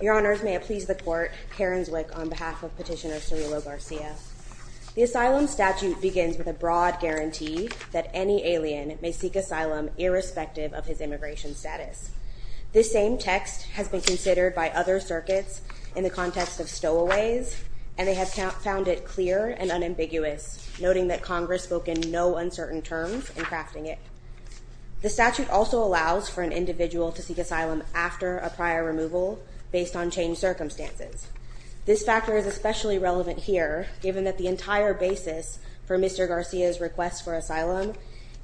Your Honors, may it please the Court, Karen Zwick on behalf of Petitioner Cirilo Garcia. The asylum statute begins with a broad guarantee that any alien may seek asylum irrespective of his immigration status. This same text has been considered by other circuits in the context of stowaways, and they have found it clear and unambiguous, noting that Congress spoke in no uncertain terms in crafting it. The statute also allows for an individual to seek asylum after a prior removal, based on changed circumstances. This factor is especially relevant here, given that the entire basis for Mr. Garcia's request for asylum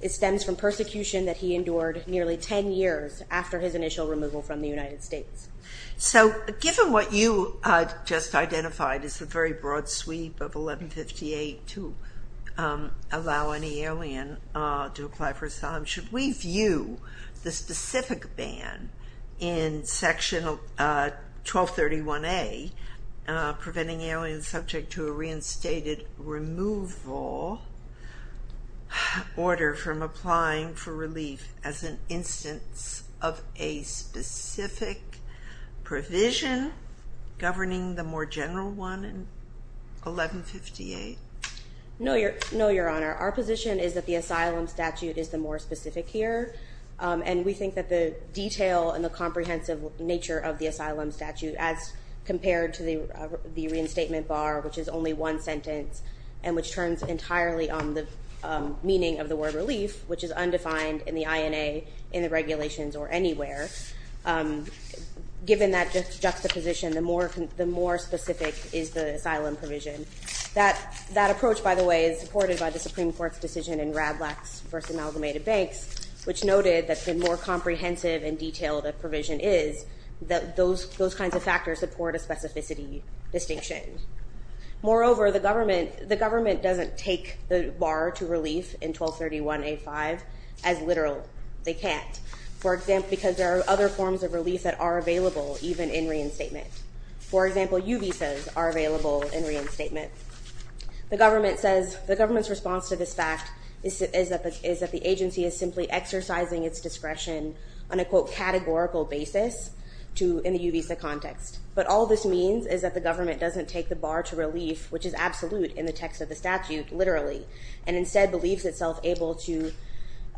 stems from persecution that he endured nearly 10 years after his initial removal from the United States. So, given what you just identified as the very broad sweep of 1158 to allow any alien to apply for asylum, should we view the specific ban in Section 1231A, preventing aliens subject to a reinstated removal order from applying for relief, as an instance of a specific provision governing the more general one in 1158? No, Your Honor. Our position is that the asylum statute is the more specific here, and we think that the detail and the comprehensive nature of the asylum statute, as compared to the reinstatement bar, which is only one sentence, and which turns entirely on the meaning of the word relief, which is undefined in the INA, in the regulations, or anywhere, given that juxtaposition, the more specific is the asylum provision. That approach, by the way, is supported by the Supreme Court's decision in Radlach's First Amalgamated Banks, which noted that the more comprehensive and detailed a provision is, that those kinds of factors support a specificity distinction. Moreover, the government doesn't take the bar to relief in 1231A-5 as literal. They can't, because there are other forms of relief that are available, even in reinstatement. For example, U visas are available in reinstatement. The government's response to this fact is that the agency is simply exercising its discretion on a, quote, categorical basis in the U visa context. But all this means is that the government doesn't take the bar to relief, which is absolute in the text of the statute, literally, and instead believes itself able to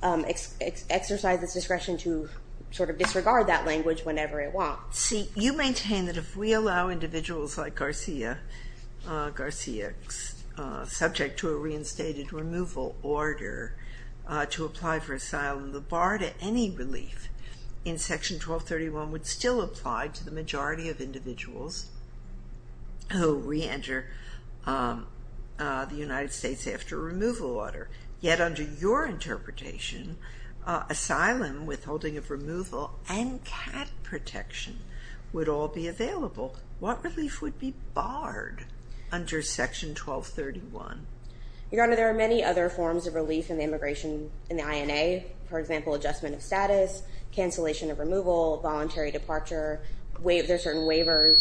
exercise its discretion to sort of disregard that language whenever it wants. See, you maintain that if we allow individuals like Garcia, subject to a reinstated removal order to apply for asylum, the bar to any relief in Section 1231 would still apply to the majority of individuals who reenter the United States after a removal order. Yet under your interpretation, asylum, withholding of removal, and cat protection would all be available. What relief would be barred under Section 1231? Your Honor, there are many other forms of relief in the immigration, in the INA. For example, adjustment of status, cancellation of removal, voluntary departure, there are certain waivers.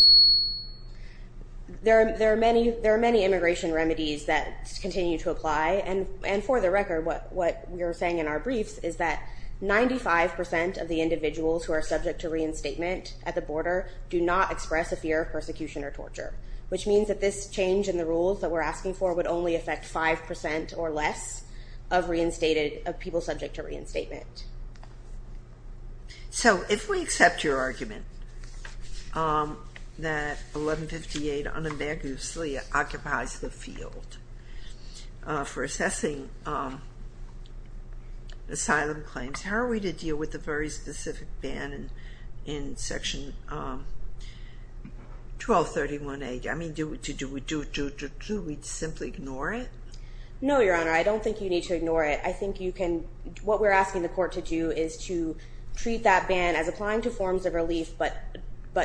There are many immigration remedies that continue to apply, and for the record, what we are saying in our briefs is that 95 percent of the individuals who are subject to reinstatement at the border do not express a fear of persecution or torture, which means that this change in the rules that we're asking for would only affect 5 percent or less of reinstated, of people subject to reinstatement. So if we accept your argument that 1158 unambiguously occupies the field for assessing asylum claims, how are we to deal with the very specific ban in Section 1231A? I mean, do we simply ignore it? No, Your Honor, I don't think you need to ignore it. I think you can, what we're asking the court to do is to treat that ban as applying to forms of relief but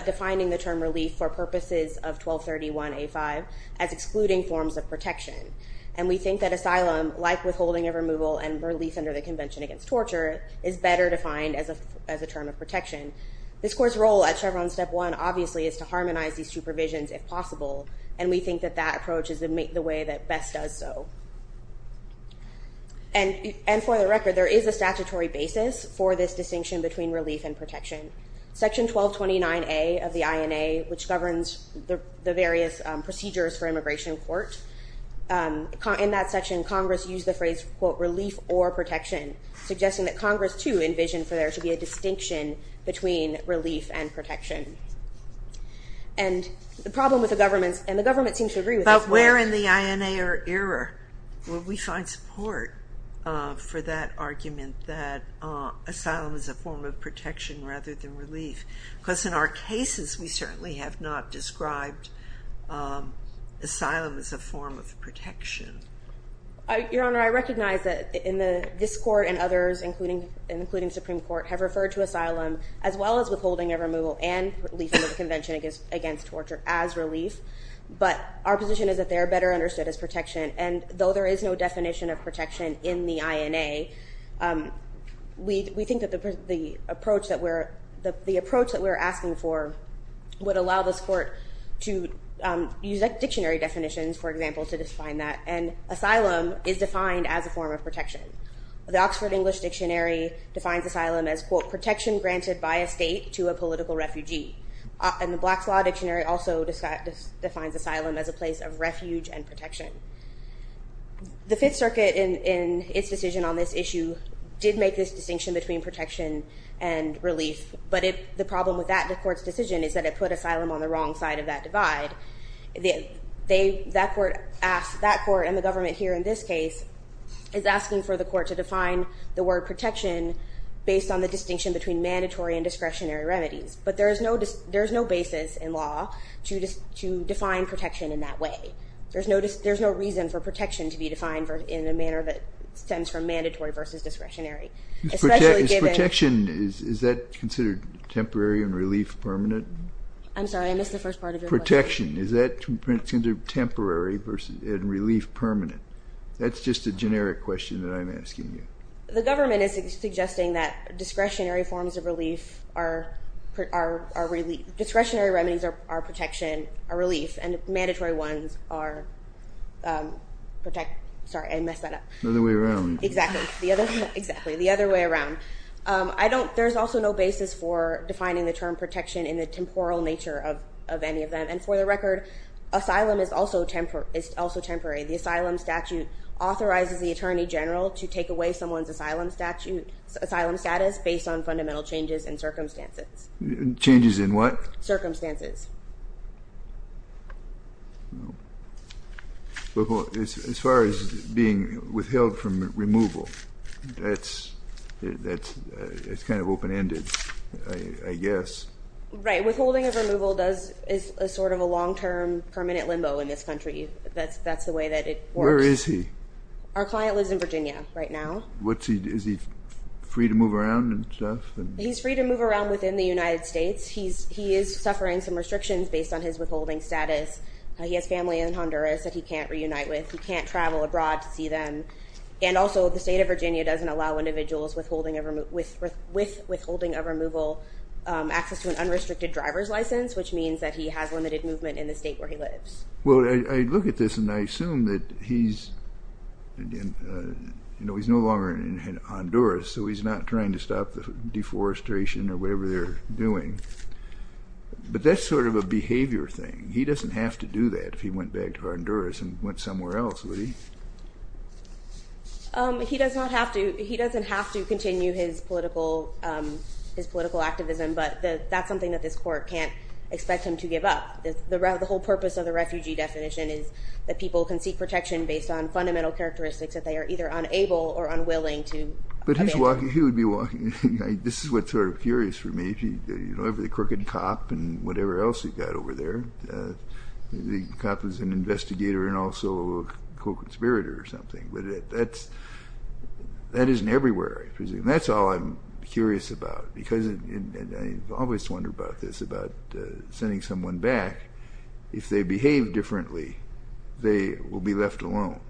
defining the term relief for purposes of 1231A5 as excluding forms of protection, and we think that asylum, like withholding of removal and relief under the Convention Against Torture, is better defined as a term of protection. This Court's role at Chevron Step 1, obviously, is to harmonize these two provisions if possible, and we think that that approach is the way that best does so. And for the record, there is a statutory basis for this distinction between relief and protection. Section 1229A of the INA, which governs the various procedures for immigration court, in that section Congress used the phrase, quote, relief or protection, suggesting that Congress, too, envisioned for there to be a distinction between relief and protection. And the problem with the government, and the government seems to agree with this. But where in the INA era will we find support for that argument that asylum is a form of protection rather than relief? Because in our cases we certainly have not described asylum as a form of protection. Your Honor, I recognize that this Court and others, including Supreme Court, have referred to asylum as well as withholding of removal and relief under the Convention Against Torture as relief. But our position is that they are better understood as protection, and though there is no definition of protection in the INA, we think that the approach that we're asking for would allow this Court to use dictionary definitions, for example, to define that, and asylum is defined as a form of protection. The Oxford English Dictionary defines asylum as, quote, protection granted by a state to a political refugee. And the Black's Law Dictionary also defines asylum as a place of refuge and protection. The Fifth Circuit, in its decision on this issue, did make this distinction between protection and relief, but the problem with that court's decision is that it put asylum on the wrong side of that divide. That court and the government here in this case is asking for the court to define the word protection based on the distinction between mandatory and discretionary remedies. But there is no basis in law to define protection in that way. There's no reason for protection to be defined in a manner that stems from mandatory versus discretionary. Is protection, is that considered temporary and relief permanent? I'm sorry, I missed the first part of your question. Protection, is that considered temporary and relief permanent? That's just a generic question that I'm asking you. The government is suggesting that discretionary forms of relief are relief. Discretionary remedies are protection, are relief, and mandatory ones are protect... Sorry, I messed that up. The other way around. Exactly, the other way around. There's also no basis for defining the term protection in the temporal nature of any of them. And for the record, asylum is also temporary. The asylum statute authorizes the attorney general to take away someone's asylum status based on fundamental changes in circumstances. Changes in what? Circumstances. No. As far as being withheld from removal, that's kind of open-ended, I guess. Right, withholding of removal is sort of a long-term permanent limbo in this country. That's the way that it works. Where is he? Our client lives in Virginia right now. Is he free to move around and stuff? He's free to move around within the United States. He is suffering some restrictions based on his withholding status. He has family in Honduras that he can't reunite with. He can't travel abroad to see them. And also the state of Virginia doesn't allow individuals with withholding of removal access to an unrestricted driver's license, which means that he has limited movement in the state where he lives. Well, I look at this and I assume that he's no longer in Honduras, so he's not trying to stop the deforestation or whatever they're doing. But that's sort of a behavior thing. He doesn't have to do that if he went back to Honduras and went somewhere else, would he? He doesn't have to continue his political activism, but that's something that this court can't expect him to give up. The whole purpose of the refugee definition is that people can seek protection based on fundamental characteristics that they are either unable or unwilling to He would be walking. This is what's sort of curious for me. The crooked cop and whatever else you've got over there. The cop is an investigator and also a co-conspirator or something. But that isn't everywhere, I presume. That's all I'm curious about because I always wonder about this, about sending someone back. If they behave differently, they will be left alone.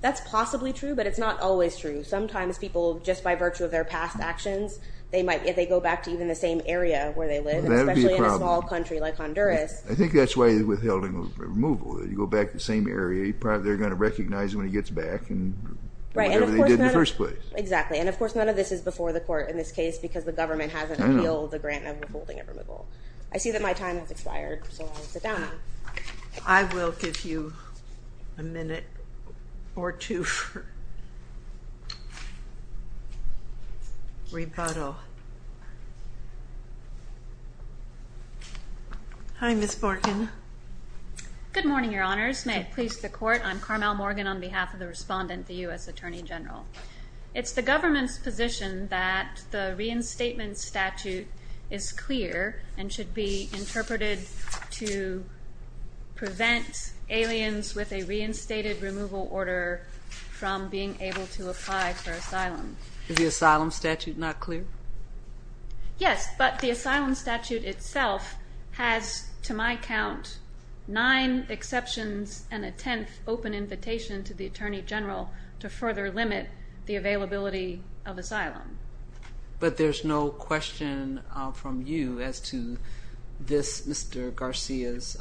That's possibly true, but it's not always true. Sometimes people, just by virtue of their past actions, they go back to even the same area where they live, especially in a small country like Honduras. I think that's why you're withholding a removal. You go back to the same area, they're going to recognize you when he gets back and whatever they did in the first place. Exactly. And, of course, none of this is before the court in this case because the government hasn't appealed the grant of withholding a removal. I see that my time has expired, so I'll sit down. I will give you a minute or two for rebuttal. Hi, Ms. Morgan. Good morning, Your Honors. May it please the Court. I'm Carmel Morgan on behalf of the respondent, the U.S. Attorney General. It's the government's position that the reinstatement statute is clear and should be interpreted to prevent aliens with a reinstated removal order from being able to apply for asylum. Is the asylum statute not clear? Yes, but the asylum statute itself has, to my count, nine exceptions and a tenth open invitation to the Attorney General to further limit the availability of asylum. But there's no question from you as to this Mr. Garcia's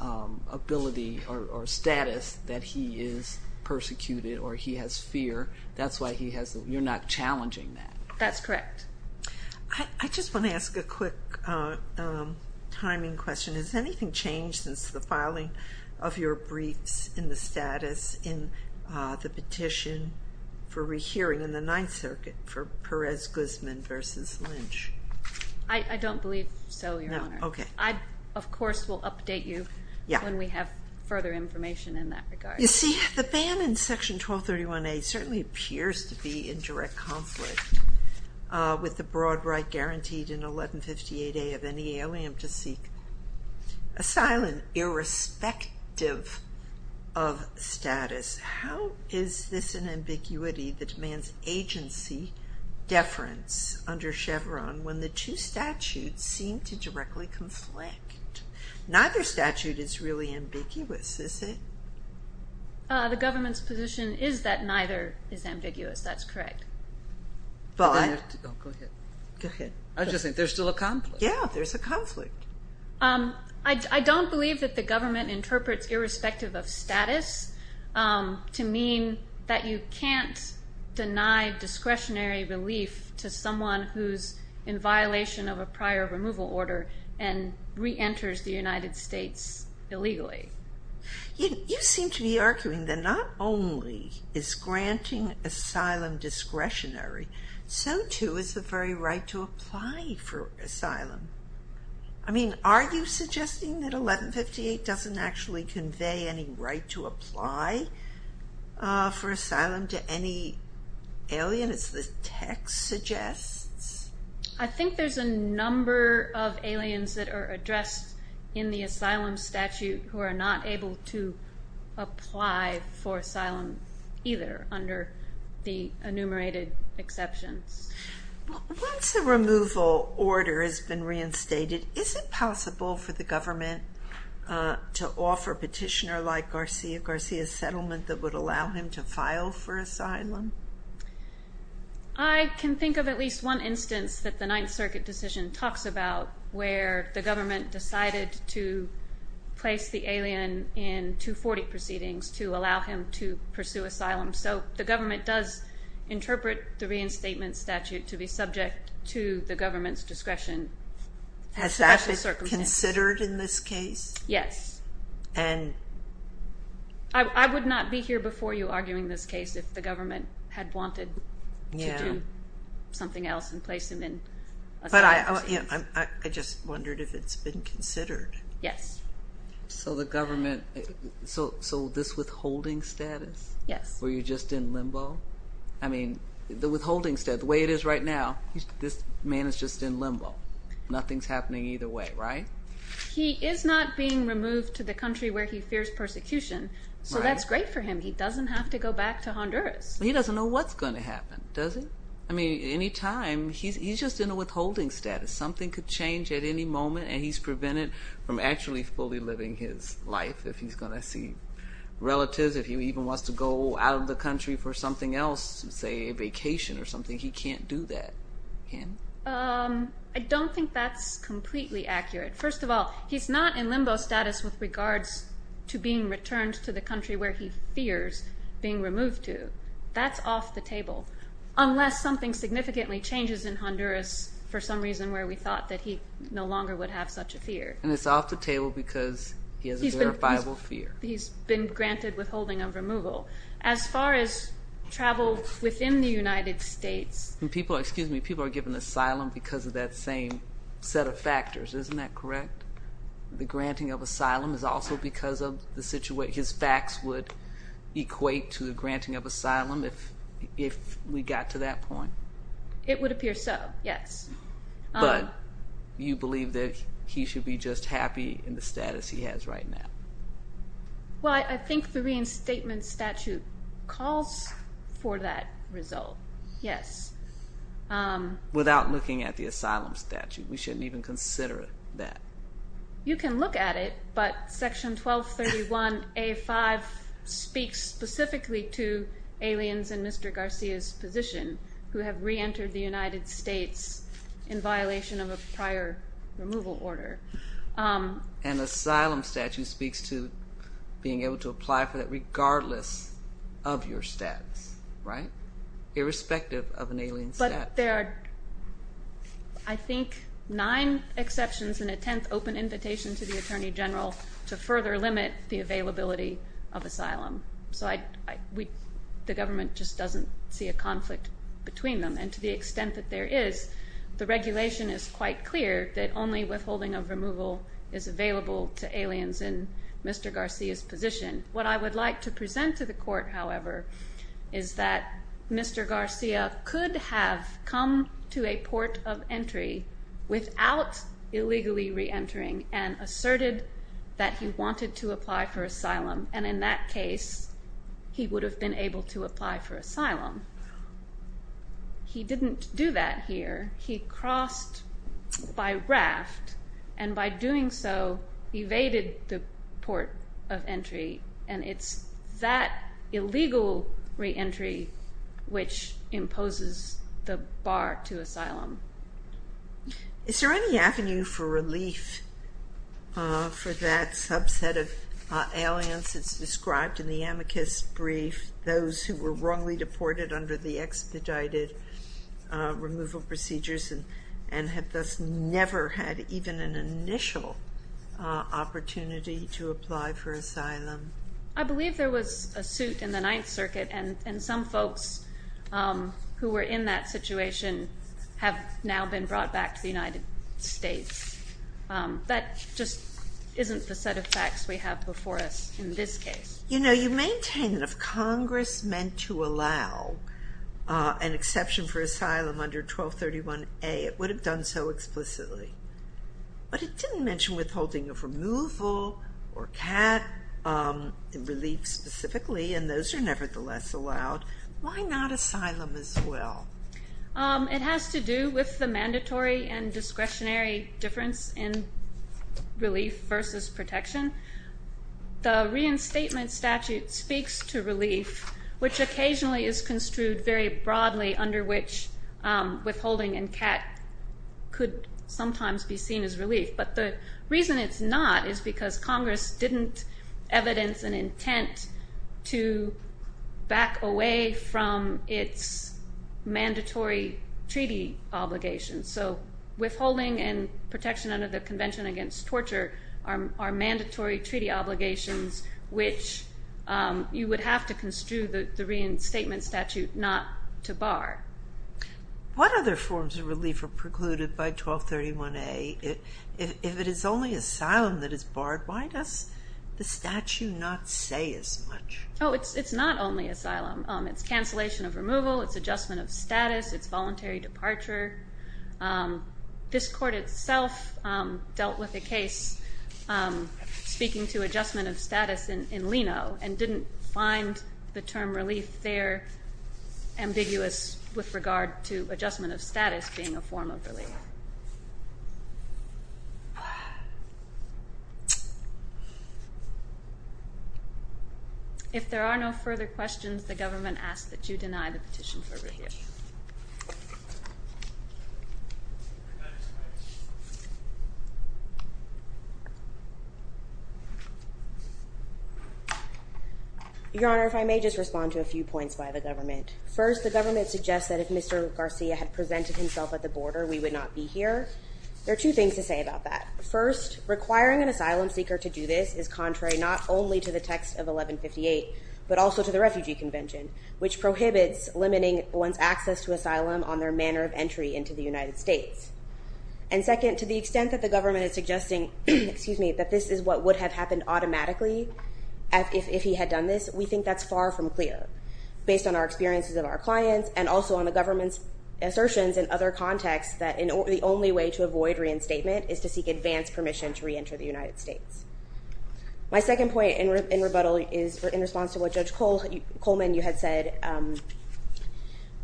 ability or status that he is persecuted or he has fear. That's why you're not challenging that. That's correct. I just want to ask a quick timing question. Has anything changed since the filing of your briefs in the status in the petition for rehearing in the Ninth Circuit for Perez-Guzman v. Lynch? I don't believe so, Your Honor. No? Okay. I, of course, will update you when we have further information in that regard. You see, the ban in Section 1231A certainly appears to be in direct conflict with the broad right guaranteed in 1158A of any alien to seek asylum irrespective of status. How is this an ambiguity that demands agency deference under Chevron when the two statutes seem to directly conflict? Neither statute is really ambiguous, is it? The government's position is that neither is ambiguous. That's correct. Go ahead. I was just saying there's still a conflict. Yeah, there's a conflict. I don't believe that the government interprets irrespective of status to mean that you can't deny discretionary relief to someone who's in violation of a prior removal order and reenters the United States illegally. You seem to be arguing that not only is granting asylum discretionary, so, too, is the very right to apply for asylum. I mean, are you suggesting that 1158 doesn't actually convey any right to apply for asylum to any alien, as the text suggests? I think there's a number of aliens that are addressed in the asylum statute who are not able to apply for asylum either under the enumerated exceptions. Once the removal order has been reinstated, is it possible for the government to offer a petitioner like Garcia Garcia's settlement that would allow him to file for asylum? I can think of at least one instance that the Ninth Circuit decision talks about where the government decided to place the alien in 240 proceedings to allow him to pursue asylum. So the government does interpret the reinstatement statute to be subject to the government's discretion. Has that been considered in this case? Yes. I would not be here before you arguing this case if the government had wanted to do something else and place him in asylum. I just wondered if it's been considered. Yes. So the government, so this withholding status? Yes. Were you just in limbo? I mean, the withholding status, the way it is right now, this man is just in limbo. Nothing's happening either way, right? He is not being removed to the country where he fears persecution, so that's great for him. He doesn't have to go back to Honduras. He doesn't know what's going to happen, does he? I mean, any time. He's just in a withholding status. Something could change at any moment, and he's prevented from actually fully living his life if he's going to see relatives. If he even wants to go out of the country for something else, say a vacation or something, he can't do that, can he? I don't think that's completely accurate. First of all, he's not in limbo status with regards to being returned to the country where he fears being removed to. That's off the table, unless something significantly changes in Honduras for some reason where we thought that he no longer would have such a fear. And it's off the table because he has a verifiable fear. He's been granted withholding of removal. As far as travel within the United States. Excuse me, people are given asylum because of that same set of factors. Isn't that correct? The granting of asylum is also because of the situation. His facts would equate to the granting of asylum if we got to that point? It would appear so, yes. But you believe that he should be just happy in the status he has right now? Well, I think the reinstatement statute calls for that result, yes. Without looking at the asylum statute. We shouldn't even consider that. You can look at it, but Section 1231A5 speaks specifically to aliens in Mr. Garcia's position who have reentered the United States in violation of a prior removal order. And the asylum statute speaks to being able to apply for that regardless of your status, right? Irrespective of an alien status. But there are, I think, nine exceptions and a tenth open invitation to the Attorney General to further limit the availability of asylum. So the government just doesn't see a conflict between them. And to the extent that there is, the regulation is quite clear that only withholding of removal is available to aliens in Mr. Garcia's position. What I would like to present to the court, however, is that Mr. Garcia could have come to a port of entry without illegally reentering and asserted that he wanted to apply for asylum. And in that case, he would have been able to apply for asylum. He didn't do that here. He crossed by raft and by doing so evaded the port of entry. And it's that illegal reentry which imposes the bar to asylum. Is there any avenue for relief for that subset of aliens that's described in the amicus brief, those who were wrongly deported under the expedited removal procedures and have thus never had even an initial opportunity to apply for asylum? I believe there was a suit in the Ninth Circuit, and some folks who were in that situation have now been brought back to the United States. That just isn't the set of facts we have before us in this case. You know, you maintain that if Congress meant to allow an exception for asylum under 1231A, it would have done so explicitly. But it didn't mention withholding of removal or cat relief specifically, and those are nevertheless allowed. Why not asylum as well? It has to do with the mandatory and discretionary difference in relief versus protection. The reinstatement statute speaks to relief, which occasionally is construed very broadly under which withholding and cat could sometimes be seen as relief. But the reason it's not is because Congress didn't evidence an intent to back away from its mandatory treaty obligations. So withholding and protection under the Convention Against Torture are mandatory treaty obligations, which you would have to construe the reinstatement statute not to bar. What other forms of relief were precluded by 1231A? If it is only asylum that is barred, why does the statute not say as much? Oh, it's not only asylum. It's adjustment of status. It's voluntary departure. This court itself dealt with a case speaking to adjustment of status in Leno and didn't find the term relief there ambiguous with regard to adjustment of status being a form of relief. If there are no further questions, the government asks that you deny the petition for review. Your Honor, if I may just respond to a few points by the government. First, the government suggests that if Mr. Garcia had presented himself at the border, we would not be here. There are two things to say about that. First, requiring an asylum seeker to do this is contrary not only to the text of 1158, but also to the Refugee Convention, which prohibits limiting one's access to asylum on their manner of entry into the United States. And second, to the extent that the government is suggesting that this is what would have happened automatically if he had done this, we think that's far from clear. based on our experiences of our clients and also on the government's assertions in other contexts that the only way to avoid reinstatement is to seek advanced permission to reenter the United States. My second point in rebuttal is in response to what Judge Coleman, you had said,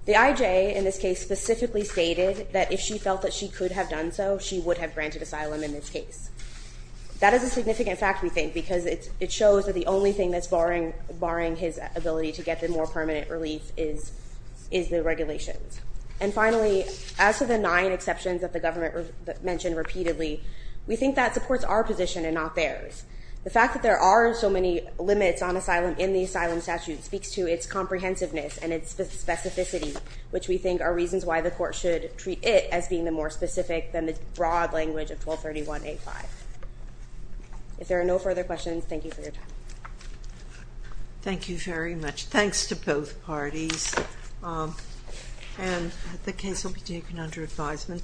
the IJ in this case specifically stated that if she felt that she could have done so, she would have granted asylum in this case. That is a significant fact, we think, because it shows that the only thing that's barring his ability to get the more permanent relief is the regulations. And finally, as to the nine exceptions that the government mentioned repeatedly, we think that supports our position and not theirs. The fact that there are so many limits in the asylum statute speaks to its comprehensiveness and its specificity, which we think are reasons why the court should treat it as being the more specific than the broad language of 1231A5. If there are no further questions, thank you for your time. Thank you very much. Thanks to both parties, and the case will be taken under advisement.